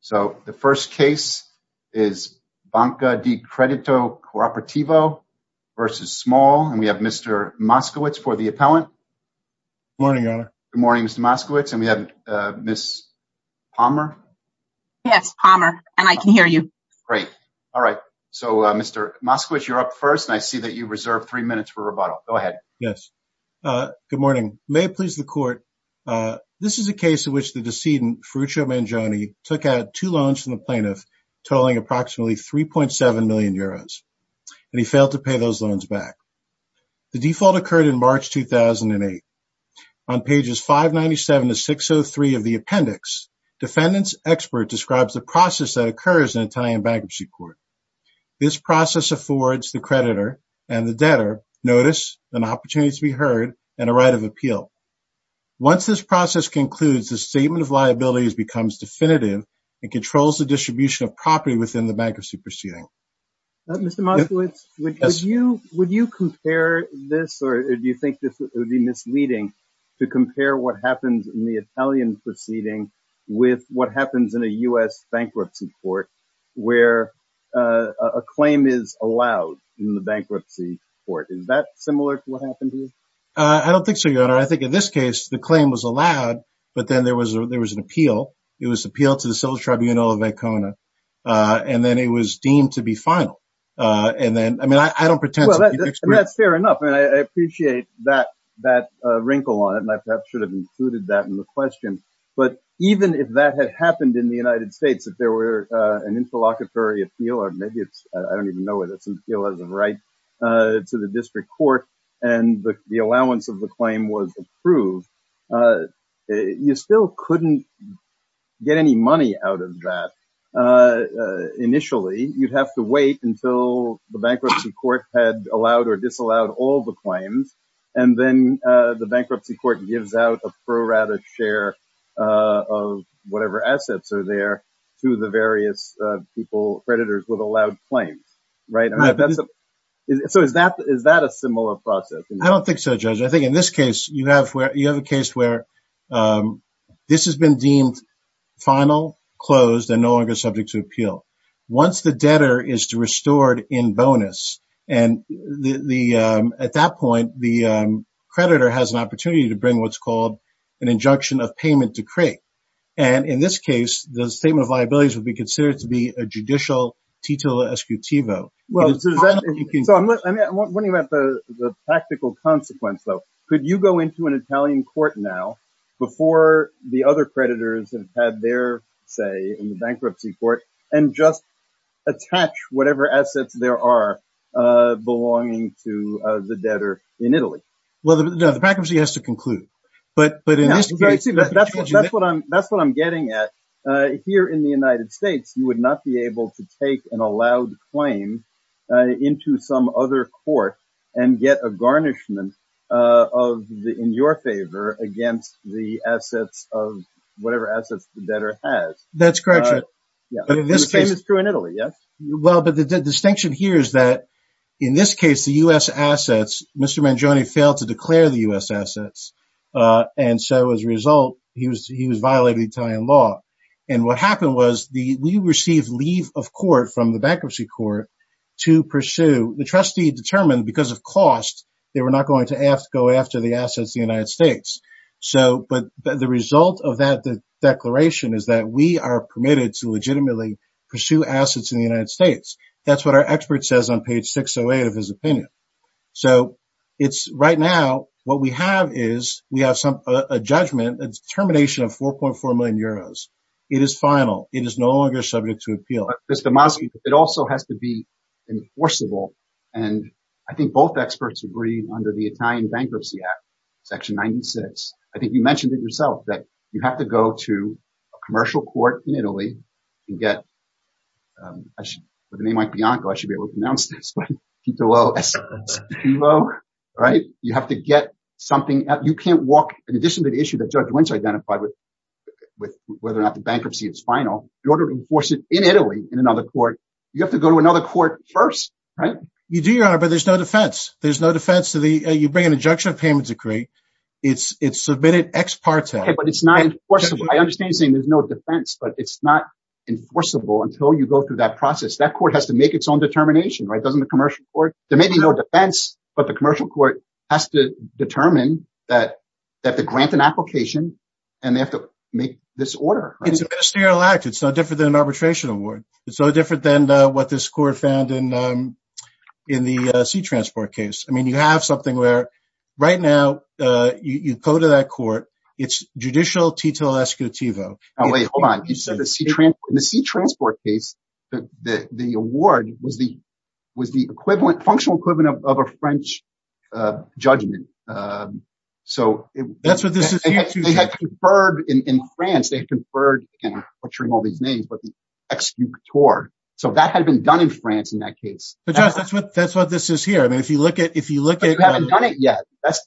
So the first case is Banca Di Credito Cooperativo versus Small, and we have Mr. Moskowitz for the appellant. Good morning, Mr. Moskowitz, and we have Ms. Palmer. Yes, Palmer, and I can hear you. Great. All right. So, Mr. Moskowitz, you're up first, and I see that you reserve three minutes for rebuttal. Go ahead. Yes. Good morning. May it please the court, this is a case in which the plaintiff totaling approximately 3.7 million euros, and he failed to pay those loans back. The default occurred in March 2008. On pages 597 to 603 of the appendix, defendant's expert describes the process that occurs in Italian bankruptcy court. This process affords the creditor and the debtor notice, an opportunity to be heard, and a right of appeal. Once this process concludes, the statement of liabilities becomes definitive and controls the distribution of property within the bankruptcy proceeding. Mr. Moskowitz, would you compare this, or do you think this would be misleading, to compare what happens in the Italian proceeding with what happens in a U.S. bankruptcy court, where a claim is allowed in the bankruptcy court? Is that similar to what happened here? I don't think so, Your Honor. I think in this case, the claim was allowed, but then there was an appeal. It was appealed to the civil tribunal of Vecchione, and then it was deemed to be final. And then, I mean, I don't pretend... That's fair enough, and I appreciate that wrinkle on it, and I perhaps should have included that in the question. But even if that had happened in the United States, if there were an interlocutory appeal, or maybe it's, I don't even know whether it's an appeal as a right to the district court, and the allowance of the claim was approved, you still couldn't get any money out of that. Initially, you'd have to wait until the bankruptcy court had allowed or disallowed all the claims, and then the bankruptcy court gives out a pro rata share of whatever assets are there to the various people, creditors with allowed claims, right? So is that a similar process? I don't think so, Judge. I think in this case, you have a case where this has been deemed final, closed, and no longer subject to appeal. Once the debtor is restored in bonus, and at that point, the creditor has an opportunity to bring what's called an injunction of payment decree. And in this case, the statement of liabilities would be considered to be a judicial tito escutivo. I'm wondering about the practical consequence, though. Could you go into an Italian court now, before the other creditors have had their say in the bankruptcy court, and just attach whatever assets there are belonging to the debtor in Italy? Well, no, the bankruptcy has to conclude. But in this case... That's what I'm getting at. Here in the United States, you would not be able to take an allowed claim into some other court and get a garnishment in your favor against the assets of whatever assets the debtor has. That's correct, Judge. And the same is true in Italy, yes? Well, but the distinction here is that in this case, the U.S. assets... Mr. Mangione failed to declare the U.S. assets, and so as a result, he was violating Italian law. And what happened was we received leave of court from the bankruptcy court to pursue... The trustee determined because of cost, they were not going to go after the assets of the United States. But the result of that declaration is that we are permitted to legitimately pursue assets in the United States. That's what our expert says on page 608 of his opinion. So right now, what we have is we have a judgment, a determination of 4.4 million euros. It is final. It is no longer subject to appeal. Mr. Mazzi, it also has to be enforceable, and I think both experts agree under the Italian Bankruptcy Act, Section 96. I think you mentioned it yourself, that you have to go to a commercial court in Italy and get... By the name of Mike Bianco, I should be able to pronounce this, right? You have to get something... You can't walk... In addition to the issue that Judge Winch identified with whether or not the bankruptcy is final, in order to enforce it in Italy in another court, you have to go to another court first, right? You do, Your Honor, but there's no defense. There's no defense to the... You bring ex parte. But it's not enforceable. I understand you're saying there's no defense, but it's not enforceable until you go through that process. That court has to make its own determination, right? Doesn't the commercial court... There may be no defense, but the commercial court has to determine that they grant an application and they have to make this order. It's a ministerial act. It's no different than an arbitration award. It's no different than what this court found in the sea transport case. I mean, you have something where, right now, you go to that court, it's judicial tito escutivo. Now, wait, hold on. You said the sea transport case, the award was the equivalent, functional equivalent of a French judgment. That's what this is here to do. They had conferred in France, they had conferred, again, I'm butchering all these names, but the ex jupitor. So that had been done in France in that case. But Josh, that's what this is here. I mean, if you look at... But you haven't done it yet.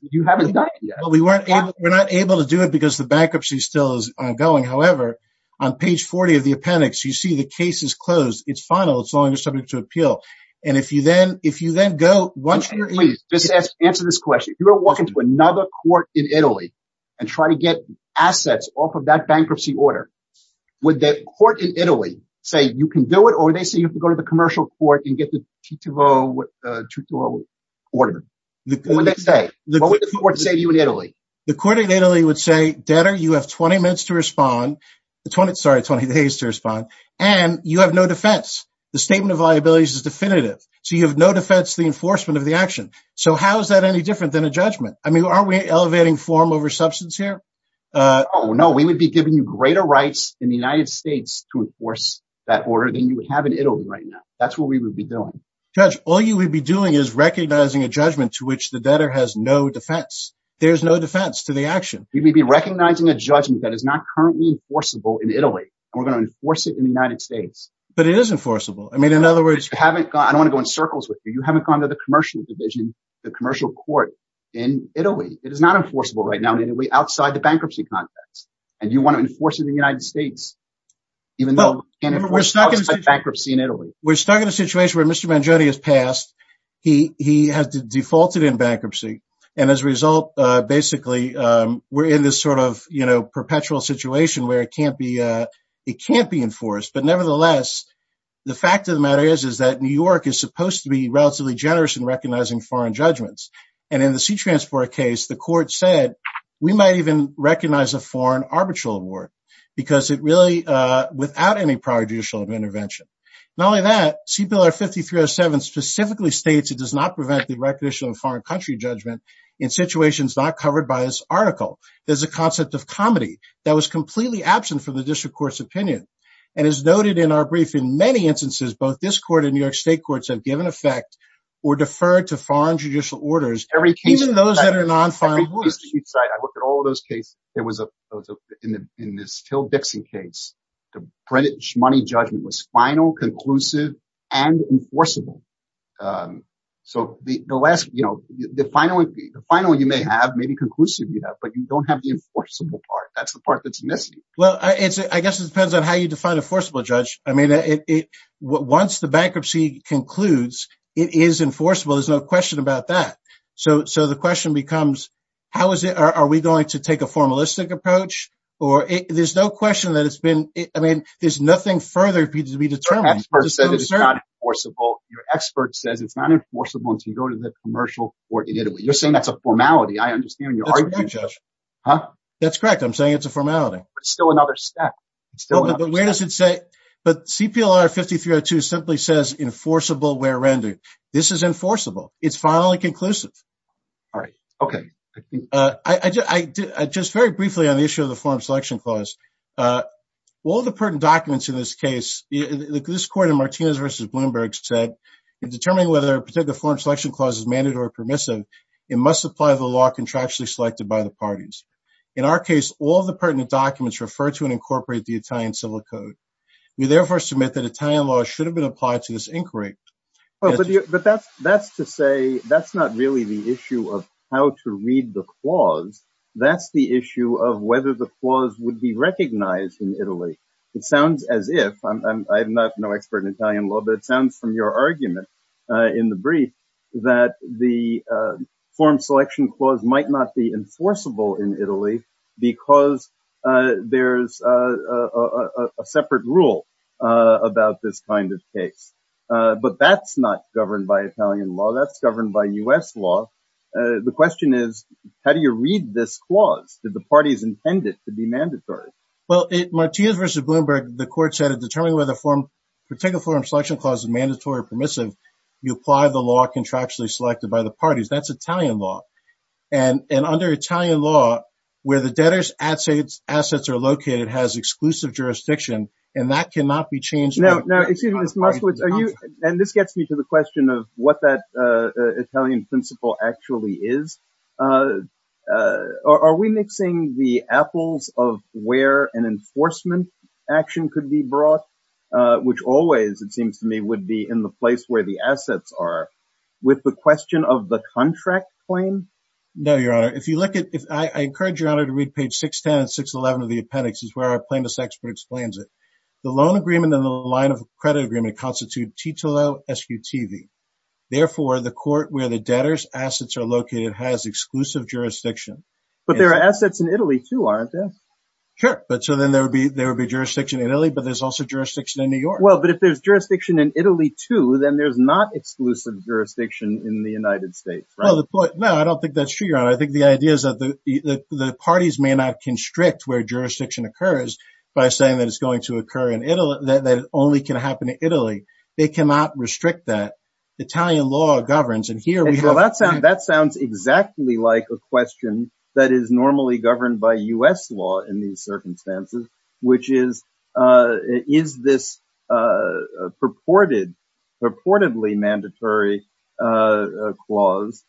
You haven't done it yet. Well, we're not able to do it because the bankruptcy still is ongoing. However, on page 40 of the appendix, you see the case is closed. It's final. It's no longer subject to appeal. And if you then go... Answer this question. If you were walking to another court in Italy and try to get assets off of that bankruptcy order, would that court in Italy say, you can do it, or would they say you have to go to the commercial court and get the tito order? What would they say? What would the court say to you in Italy? The court in Italy would say, Dadder, you have 20 minutes to respond. Sorry, 20 days to respond. And you have no defense. The statement of liabilities is definitive. So you have no defense the enforcement of the action. So how is that any different than a judgment? I mean, aren't we elevating form over substance here? Oh, no, we would be giving you greater rights in the United States to enforce that order than you would have in Italy right now. That's what we would be doing. Judge, all you would be doing is recognizing a judgment to which the debtor has no defense. There's no defense to the action. We would be recognizing a judgment that is not currently enforceable in Italy. We're going to enforce it in the United States. But it is enforceable. I mean, in other words, I don't want to go in circles with you. You haven't gone to the commercial division, the commercial court in Italy. It is not enforceable right now outside the bankruptcy context. And you want to enforce it in the United States, even though you can't enforce bankruptcy in Italy. We're stuck in a situation where Mr. Mangione has passed. He has defaulted in bankruptcy. And as a result, basically, we're in this sort of perpetual situation where it can't be enforced. But nevertheless, the fact of the matter is, is that New York is supposed to be relatively generous in recognizing foreign judgments. And in the C-Transport case, the court said, we might even recognize a foreign arbitral award because it really, without any prior judicial intervention. Not only that, CPLR 5307 specifically states it does not prevent the recognition of foreign country judgment in situations not covered by this article. There's a concept of comedy that was completely absent from the district court's opinion. And as noted in our brief, in many instances, both this court and New York, the court said, we're going to recognize foreign judicial orders, even those that are non-final. I look at all those cases. In this Till Dixon case, the British money judgment was final, conclusive, and enforceable. So the final one you may have, maybe conclusive you have, but you don't have the enforceable part. That's the part that's missing. Well, I guess it depends on how you define enforceable, Judge. I mean, once the bankruptcy concludes, it is enforceable. There's no question about that. So the question becomes, how is it, are we going to take a formalistic approach? Or there's no question that it's been, I mean, there's nothing further needs to be determined. Your expert says it's not enforceable. Your expert says it's not enforceable until you go to the commercial court in Italy. You're saying that's a formality. I understand your argument, Judge. That's correct. I'm saying it's a formality. But it's still another step. But where does it say, but CPLR 5302 simply says enforceable where rendered. This is enforceable. It's finally conclusive. All right. Okay. I just very briefly on the issue of the form selection clause, all the pertinent documents in this case, this court in Martinez versus Bloomberg said, in determining whether a particular form selection clause is mandatory or permissive, it must apply the law contractually selected by the parties. In our case, all the pertinent documents refer to and incorporate the Italian civil code. We therefore submit that Italian law should have been applied to this inquiry. But that's to say, that's not really the issue of how to read the clause. That's the issue of whether the clause would be recognized in Italy. It sounds as if, I'm not no expert in Italian law, but it sounds from your argument in the brief that the form selection clause might not be enforceable in Italy, because there's a separate rule about this kind of case. But that's not governed by Italian law. That's governed by U.S. law. The question is, how do you read this clause? Did the parties intend it to be mandatory? Well, in Martinez versus Bloomberg, the court said, in determining whether a particular form selection clause is mandatory or permissive, you apply the law contractually selected by the parties. That's Italian law. And under Italian law, where the debtor's assets are located, has exclusive jurisdiction, and that cannot be changed by the parties. Now, excuse me, Mr. Muskowitz, and this gets me to the question of what that Italian principle actually is. Are we mixing the apples of where an enforcement action could be brought, which always, it seems to me, would be in the place where the assets are, with the question of the contract claim? No, Your Honor. I encourage Your Honor to read page 610 and 611 of the appendix. It's where our plaintiff's expert explains it. The loan agreement and the line of credit agreement constitute titolo escutivi. Therefore, the court where the debtor's assets are located has exclusive jurisdiction. But there are assets in Italy, too, aren't there? Sure. But so then there would be jurisdiction in Italy, but there's also jurisdiction in New York. Well, but if there's jurisdiction in Italy, too, then there's not exclusive jurisdiction in the United States, right? Well, no, I don't think that's true, Your Honor. I think the idea is that the parties may not constrict where jurisdiction occurs by saying that it's going to occur in Italy, that it only can happen in Italy. They cannot restrict that. Italian law governs, and here we have— That sounds exactly like a question that is normally governed by U.S. law in these circumstances, which is, is this purportedly mandatory clause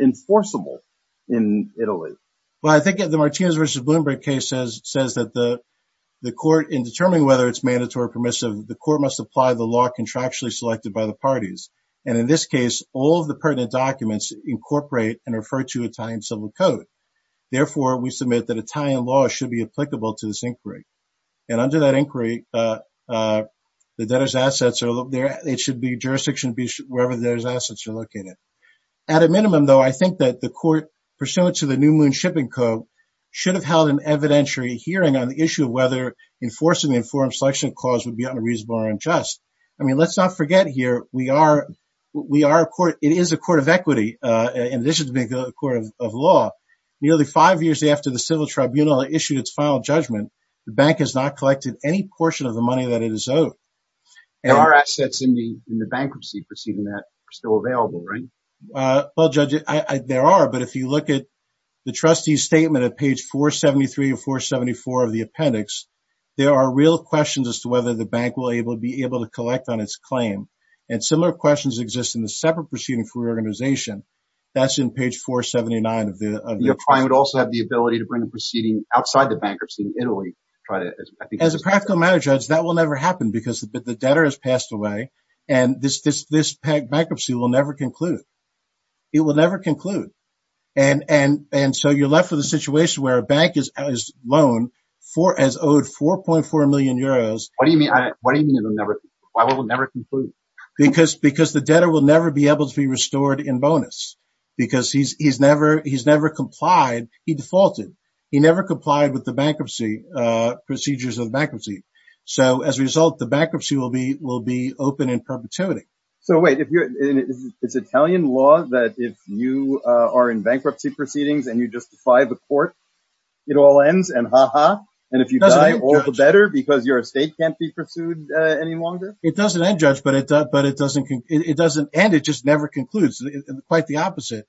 enforceable in Italy? Well, I think the Martinez v. Bloomberg case says that the court, in determining whether it's mandatory or permissive, the court must apply the law contractually selected by the parties. And in this case, all of the pertinent documents incorporate and refer to Italian civil code. Therefore, we submit that Italian law should be applicable to this inquiry. And under that inquiry, the debtor's assets are—it should be jurisdiction be wherever the debtor's assets are located. At a minimum, though, I think that the court, pursuant to the New Moon Shipping Code, should have held an evidentiary hearing on the issue of whether enforcing the informed selection clause would be unreasonable or unjust. I mean, let's not forget here, we are—it is a court of equity in addition to being a court of law. Nearly five years after the civil tribunal issued its final judgment, the bank has not collected any portion of the money that it is owed. There are assets in the bankruptcy proceeding that are still available, right? Well, Judge, there are, but if you look at the trustee's statement at page 473 and 474 of the claim, and similar questions exist in the separate proceeding for reorganization, that's in page 479 of the— Your client would also have the ability to bring the proceeding outside the bankruptcy in Italy. As a practical matter, Judge, that will never happen because the debtor has passed away, and this bankruptcy will never conclude. It will never conclude. And so you're left with a situation where a bank is loaned as owed 4.4 million euros— What do you mean it will never—why will it never conclude? Because the debtor will never be able to be restored in bonus, because he's never complied—he defaulted. He never complied with the bankruptcy—procedures of bankruptcy. So as a result, the bankruptcy will be open in perpetuity. So wait, it's Italian law that if you are in bankruptcy proceedings and you justify the court, it all ends and ha-ha? And if you die, all the better because your estate can't be pursued any longer? It doesn't end, Judge, but it doesn't end. It just never concludes. Quite the opposite.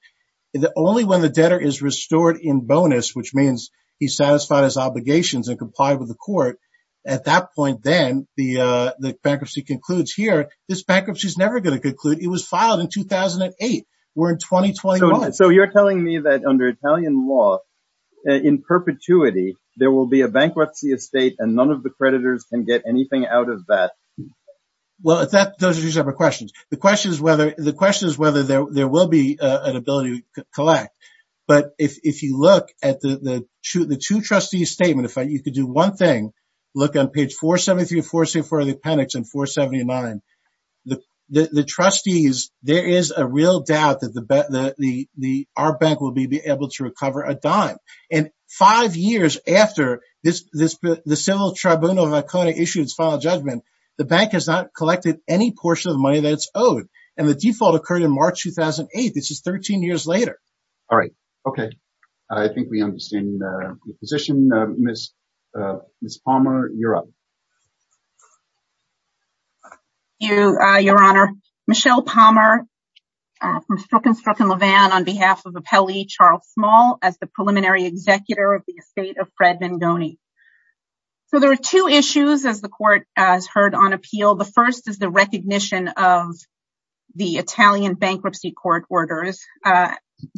Only when the debtor is restored in bonus, which means he's satisfied his obligations and complied with the court, at that point then the bankruptcy concludes here. This bankruptcy is never going to conclude. It was filed in 2008. We're in 2021. So you're telling me that under Italian law, in perpetuity, there will be a bankruptcy estate and none of the creditors can get anything out of that? Well, those are two separate questions. The question is whether there will be an ability to collect. But if you look at the two trustees' statement, if you could do one thing, look on page 473, 474 of the appendix and 479, the trustees, there is a real doubt that our bank will be able to recover a dime. And five years after the Civil Tribunal of Icona issued its final judgment, the bank has not collected any portion of the money that it's owed. And the default occurred in March 2008. This is 13 years later. All right. Okay. I think we understand the position. Ms. Palmer, you're up. Your Honor, Michelle Palmer from Strzok & Strzok & Levan on behalf of Appelli, Charles Small, as the preliminary executor of the estate of Fred Vangoni. So there are two issues, as the court has heard on appeal. The first is the recognition of the Italian bankruptcy court orders.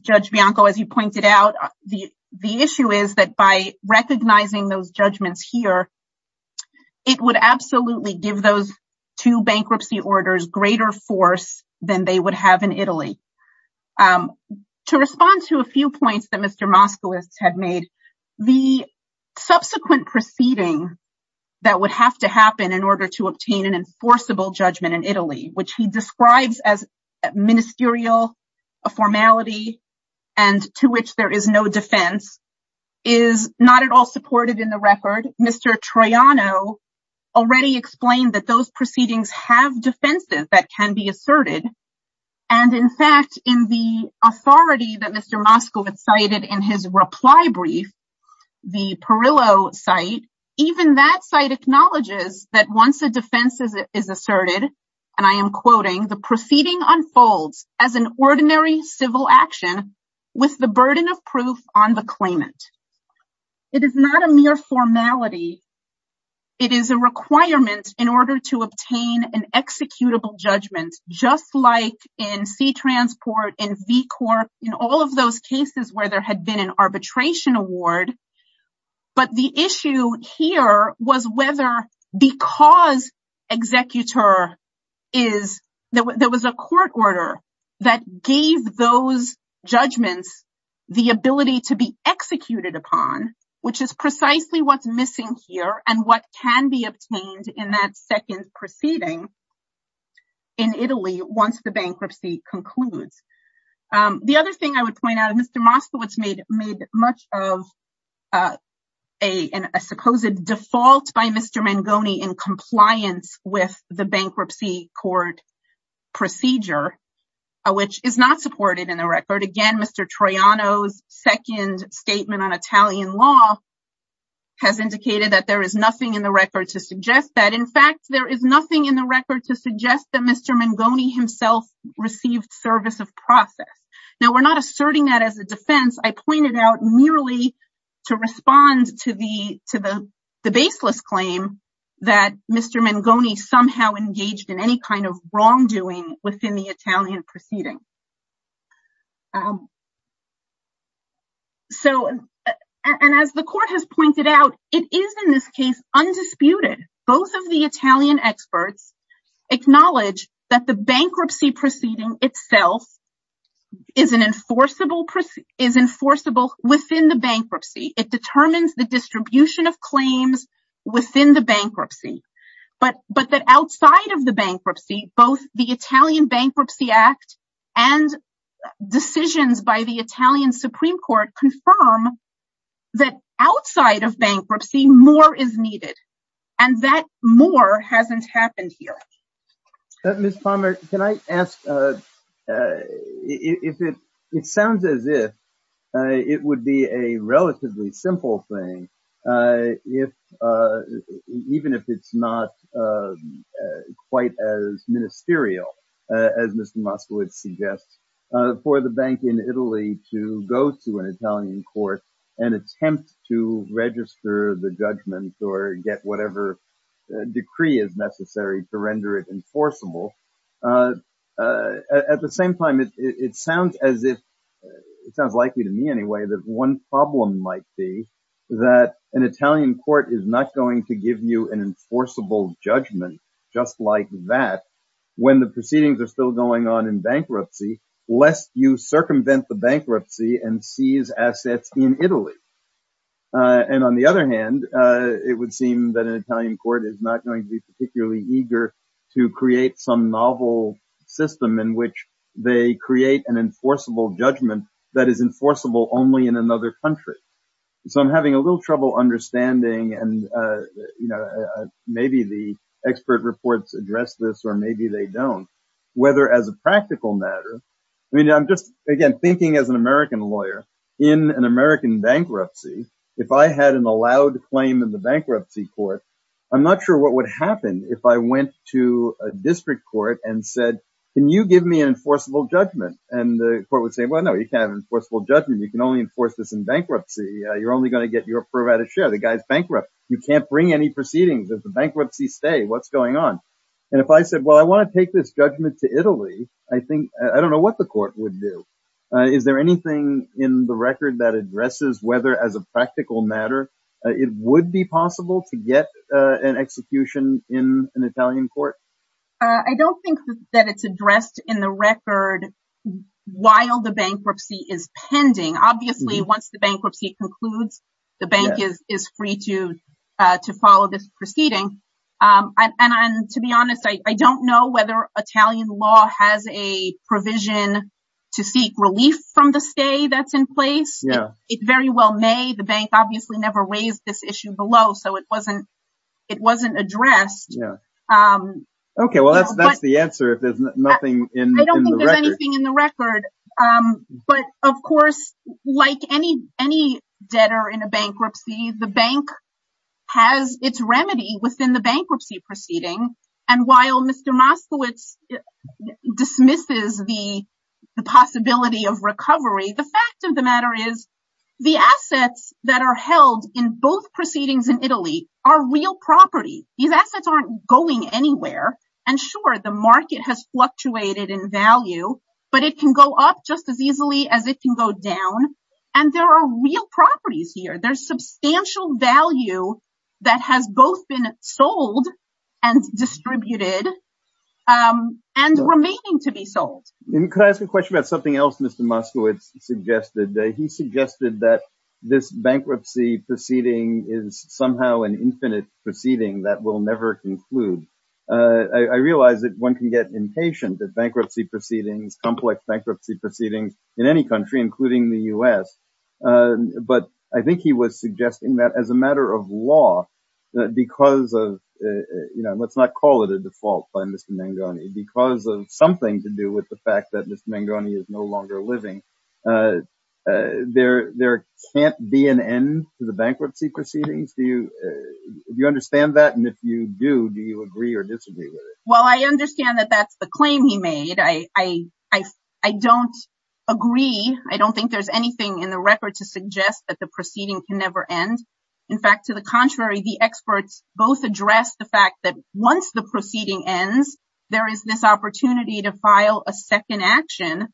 Judge Bianco, as you pointed out, the issue is that by recognizing those judgments here, it would absolutely give those two bankruptcy orders greater force than they would have in Italy. To respond to a few points that Mr. Moskowitz had made, the subsequent proceeding that would have to happen in order to obtain an enforceable judgment in Italy, which he describes as ministerial, a formality, and to which there is no defense, is not at all supported in the record. Mr. Troiano already explained that those proceedings have defenses that can be asserted. And in fact, in the authority that Mr. Moskowitz cited in his reply brief, the Perillo site, even that site acknowledges that once a defense is asserted, and I am quoting, the proceeding unfolds as an ordinary civil action with the burden of proof on the claimant. It is not a mere formality. It is a requirement in order to obtain an executable judgment, just like in C-Transport, in VCORP, in all of those cases where there had been an arbitration award. But the issue here was whether because executor is, there was a court order that gave those judgments the ability to be executed upon, which is precisely what's missing here, and what can be obtained in that second proceeding in Italy once the bankruptcy concludes. The other thing I would point out, Mr. Moskowitz made much of a supposed default by Mr. Mangoni in compliance with the bankruptcy court procedure, which is not supported in the record. Again, Mr. Troiano's second statement on Italian law has indicated that there is nothing in the record to suggest that. In fact, there is nothing in the record to suggest that Mr. Mangoni himself received service of process. Now, we're not asserting that as a defense. I pointed out merely to respond to the baseless claim that Mr. Mangoni somehow engaged in any kind of wrongdoing within the Italian proceeding. And as the court has pointed out, it is in this case undisputed. Both of the Italian experts acknowledge that the bankruptcy proceeding itself is enforceable within the bankruptcy. It determines the distribution of claims within the bankruptcy, but that outside of the bankruptcy, both the Italian Bankruptcy Act and decisions by the Italian Supreme Court confirm that outside of bankruptcy, more is needed, and that more hasn't happened here. Ms. Palmer, can I ask, it sounds as if it would be a relatively simple thing, even if it's not quite as ministerial as Mr. Moskowitz suggests, for the bank in Italy to go to an Italian court and attempt to register the judgment or get whatever decree is necessary to render it enforceable. At the same time, it sounds likely to me anyway that one problem might be that an Italian court is not going to give you an enforceable judgment just like that when the proceedings are still going on in bankruptcy, lest you circumvent the bankruptcy and seize assets in Italy. And on the other hand, it would seem that an Italian court is not going to be particularly eager to create some novel system in which they create an enforceable judgment that is enforceable only in another country. So I'm having a little trouble understanding, and maybe the expert reports address this or maybe they don't, whether as a practical matter. I mean, I'm just, again, thinking as an American lawyer, in an American bankruptcy, if I had an allowed claim in the bankruptcy court, I'm not sure what would happen if I went to a district court and said, can you give me an enforceable judgment? And the court would say, well, no, you can't have an enforceable judgment. You can only enforce this in bankruptcy. You're only going to get your provided share. The guy's bankrupt. You can't bring any proceedings. Does the bankruptcy stay? What's going on? And if I said, well, I want to take this judgment to Italy, I think, I don't know what the court would do. Is there anything in the record that addresses whether, as a practical matter, it would be possible to get an execution in an Italian court? I don't think that it's addressed in the record while the bankruptcy is pending. Obviously, once the bankruptcy concludes, the bank is free to follow this proceeding. And to be honest, I don't know whether Italian law has a provision to seek relief from the stay that's in place. It very well may. The bank obviously never raised this issue below, so it wasn't addressed. OK, well, that's the answer if there's nothing in the record. I don't think there's anything in the record. But of course, like any debtor in a bankruptcy, the bank has its remedy within the bankruptcy proceeding. And while Mr. Moskowitz dismisses the possibility of recovery, the fact of the matter is the assets that are held in both proceedings in Italy are real property. These assets aren't going anywhere. And sure, the market has fluctuated in value, but it can go up just as easily as it can go down. And there are real properties here. There's substantial value that has both been sold and distributed and remaining to be sold. And can I ask a question about something else Mr. Moskowitz suggested? He suggested that this bankruptcy proceeding is somehow an infinite proceeding that will never conclude. I realize that one can get impatient that bankruptcy proceedings, complex bankruptcy proceedings in any country, including the US. But I think he was suggesting that as a matter of law, because of, you know, let's not call it a default by Mr. Mangoni, because of something to do with that Mr. Mangoni is no longer living, there can't be an end to the bankruptcy proceedings. Do you understand that? And if you do, do you agree or disagree with it? Well, I understand that that's the claim he made. I don't agree. I don't think there's anything in the record to suggest that the proceeding can never end. In fact, to the contrary, the experts both address the fact that once the proceeding ends, there is this opportunity to action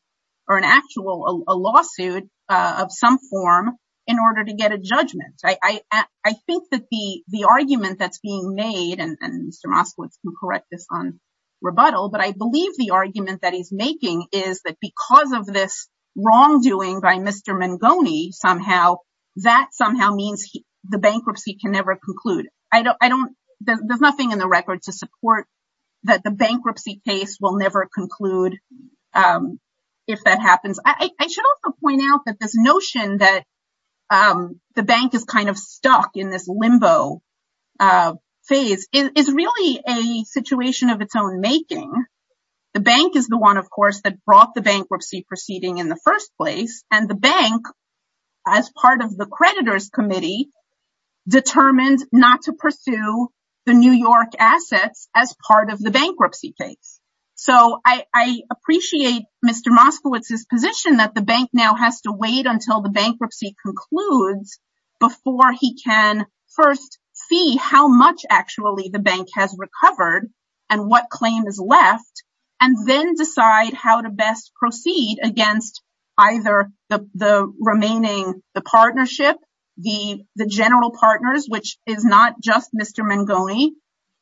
or an actual lawsuit of some form in order to get a judgment. I think that the argument that's being made, and Mr. Moskowitz can correct this on rebuttal, but I believe the argument that he's making is that because of this wrongdoing by Mr. Mangoni, somehow, that somehow means the bankruptcy can never conclude. I don't, there's nothing in the record to support that the bankruptcy case will never conclude. If that happens, I should also point out that this notion that the bank is kind of stuck in this limbo phase is really a situation of its own making. The bank is the one, of course, that brought the bankruptcy proceeding in the first place. And the bank, as part of the creditors committee, determined not to pursue the New York assets as part of the bankruptcy case. I appreciate Mr. Moskowitz's position that the bank now has to wait until the bankruptcy concludes before he can first see how much actually the bank has recovered and what claim is left, and then decide how to best proceed against either the remaining, the partnership, the general partners, which is not just Mr. Mangoni,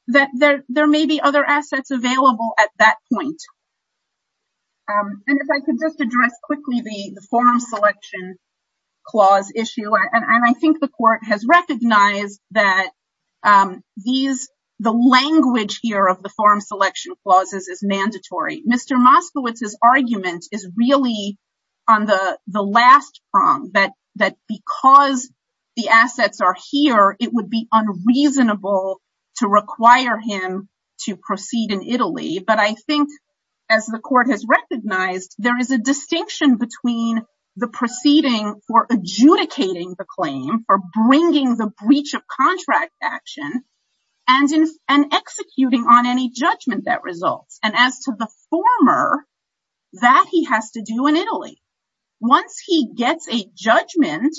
that there may be other assets available at that point. And if I could just address quickly the form selection clause issue, and I think the court has recognized that these, the language here of the form selection clauses is mandatory. Mr. Moskowitz's argument is really on the last prong, that because the assets are here, it would be unreasonable to require him to proceed in Italy. But I think as the court has recognized, there is a distinction between the proceeding for adjudicating the claim, for bringing the breach of contract action, and executing on any judgment that results. And as to the former, that he has to do in Italy. Once he gets a judgment,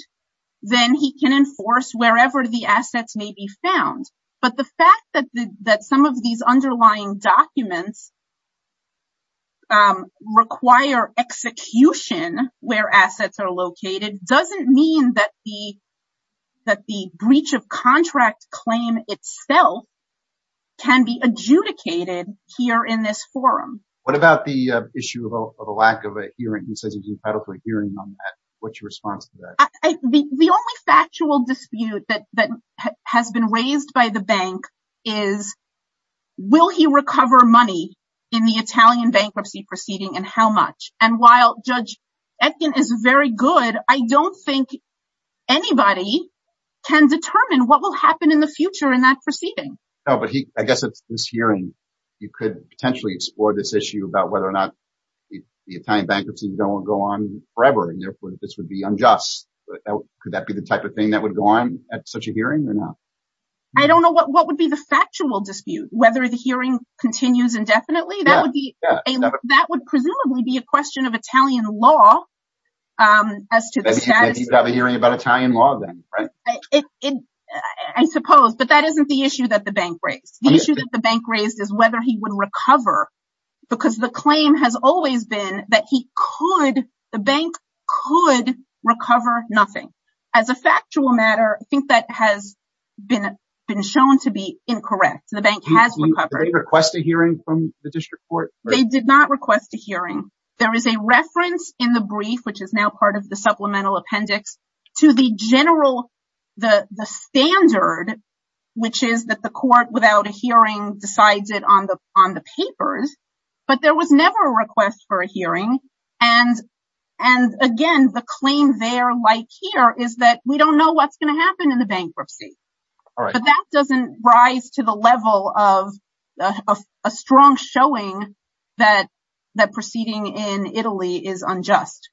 then he can enforce wherever the assets may be found. But the fact that some of these underlying documents require execution where assets are located, doesn't mean that the breach of contract claim itself can be adjudicated here in this forum. What about the issue of a lack of a hearing? The only factual dispute that has been raised by the bank is, will he recover money in the Italian bankruptcy proceeding and how much? And while Judge Etkin is very good, I don't think anybody can determine what will happen in the future in that proceeding. No, but I guess at this hearing, you could potentially explore this issue about whether the Italian bankruptcy will go on forever and therefore this would be unjust. Could that be the type of thing that would go on at such a hearing or not? I don't know. What would be the factual dispute? Whether the hearing continues indefinitely? That would presumably be a question of Italian law as to the status. You'd have a hearing about Italian law then, right? I suppose, but that isn't the issue that the bank raised. The issue that the bank raised is whether he would recover because the claim has always been that the bank could recover nothing. As a factual matter, I think that has been shown to be incorrect. The bank has recovered. Did they request a hearing from the district court? They did not request a hearing. There is a reference in the brief, which is now part of the supplemental appendix, to the general standard, which is that the court, without a hearing, decides it on the papers. But there was never a request for a hearing. Again, the claim there, like here, is that we don't know what's going to happen in the bankruptcy. But that doesn't rise to the level of a strong showing that proceeding in Italy is unjust.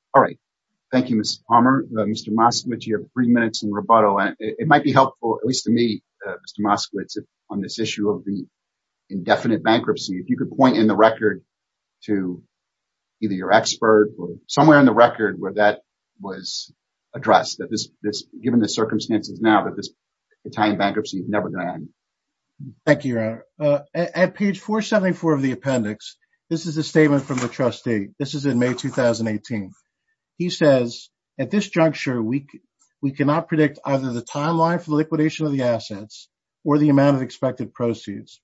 Thank you, Ms. Palmer. Mr. Moskowitz, you have three minutes in rebuttal. It might be helpful, at least to me, Mr. Moskowitz, on this issue of the indefinite bankruptcy. If you could point in the record to either your expert or somewhere in the record where that was addressed, that this, given the circumstances now, that this Italian bankruptcy is never going to end. Thank you, Your Honor. At page 474 of the appendix, this is a statement from the trustee. This is in May 2018. He says, at this juncture, we cannot predict either the timeline for the liquidation of the assets or the amount of expected proceeds.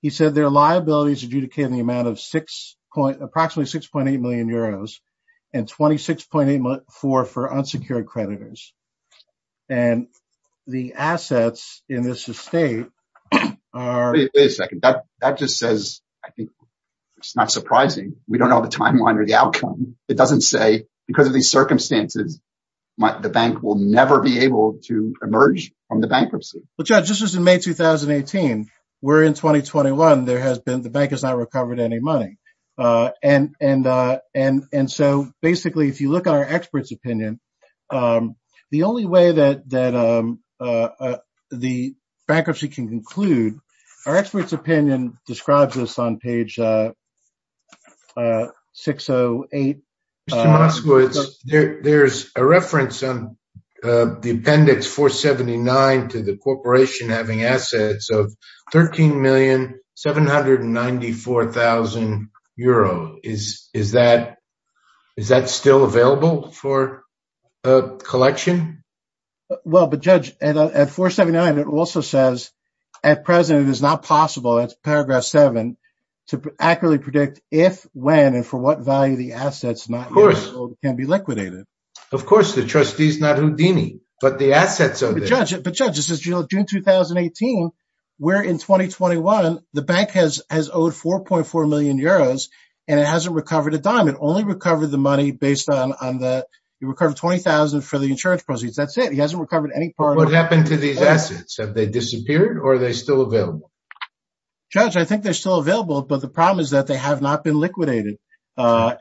He said there are liabilities adjudicated in the amount of approximately 6.8 million euros and 26.8 for unsecured creditors. And the assets in this estate are... Wait a second. That just says, I think, it's not surprising. We don't know the timeline or the outcome. It doesn't say, because of these circumstances, the bank will never be able to emerge from the bankruptcy. Well, Judge, this was in May 2018. We're in 2021. The bank has not recovered any money. And so, basically, if you look at our expert's opinion, the only way that the bankruptcy can There's a reference on the appendix 479 to the corporation having assets of 13,794,000 euros. Is that still available for collection? Well, but Judge, at 479, it also says, at present, it is not possible, it's paragraph 7, to accurately predict if, when, and for what value the assets can be liquidated. Of course, the trustee is not Houdini, but the assets are there. But Judge, this is June 2018. We're in 2021. The bank has owed 4.4 million euros, and it hasn't recovered a dime. It only recovered the money based on that it recovered 20,000 for the insurance proceeds. That's it. He hasn't recovered any part of it. What happened to these assets? Have they disappeared or are they still available? Judge, I think they're still liquidated. What's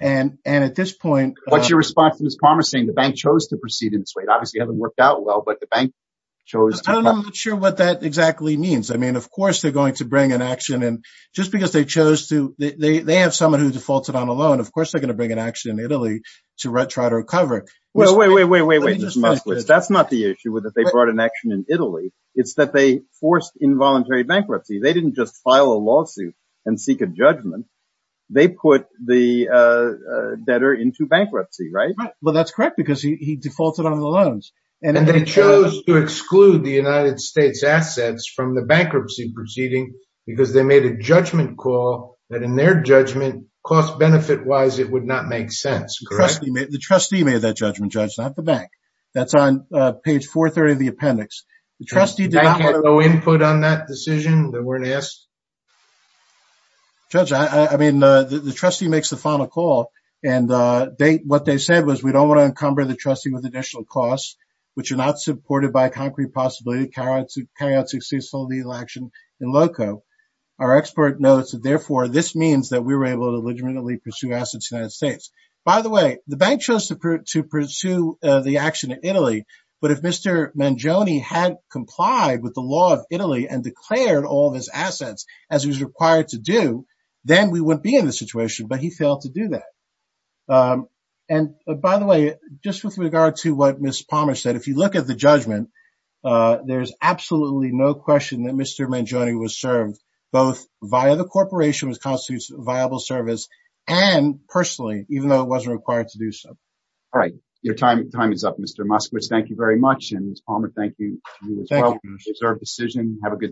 your response to Ms. Palmer saying the bank chose to proceed in this way? Obviously, it hasn't worked out well, but the bank chose to. I'm not sure what that exactly means. I mean, of course, they're going to bring an action in just because they chose to. They have someone who defaulted on a loan. Of course, they're going to bring an action in Italy to try to recover. Well, wait, wait, wait, wait, wait. That's not the issue with it. They brought an action in Italy. It's that they forced involuntary bankruptcy. They didn't just file a lawsuit and seek a judgment. They put the debtor into bankruptcy, right? Right. Well, that's correct because he defaulted on the loans. And they chose to exclude the United States assets from the bankruptcy proceeding because they made a judgment call that in their judgment, cost-benefit-wise, it would not make sense. Correct. The trustee made that judgment, Judge, not the bank. That's on page 430 of the appendix. The trustee did not want to... The bank had no input on that decision? They weren't asked? Judge, I mean, the trustee makes the final call. And what they said was, we don't want to encumber the trustee with additional costs, which are not supported by a concrete possibility to carry out successful legal action in LOCO. Our expert notes that, therefore, this means that we were able to legitimately pursue assets in the United States. By the way, the bank chose to pursue the action in Italy. But if Mr. Mangione had complied with the law of Italy and declared all of his assets, as he was required to do, then we wouldn't be in this situation. But he failed to do that. And by the way, just with regard to what Ms. Palmer said, if you look at the judgment, there's absolutely no question that Mr. Mangione was served both via the corporation, which constitutes viable service, and personally, even though it wasn't required to do so. All right. Your time is up, Mr. Muskowitz. Thank you very much. And Ms. Palmer, thank you to you as well. You deserved the decision. Have a good day.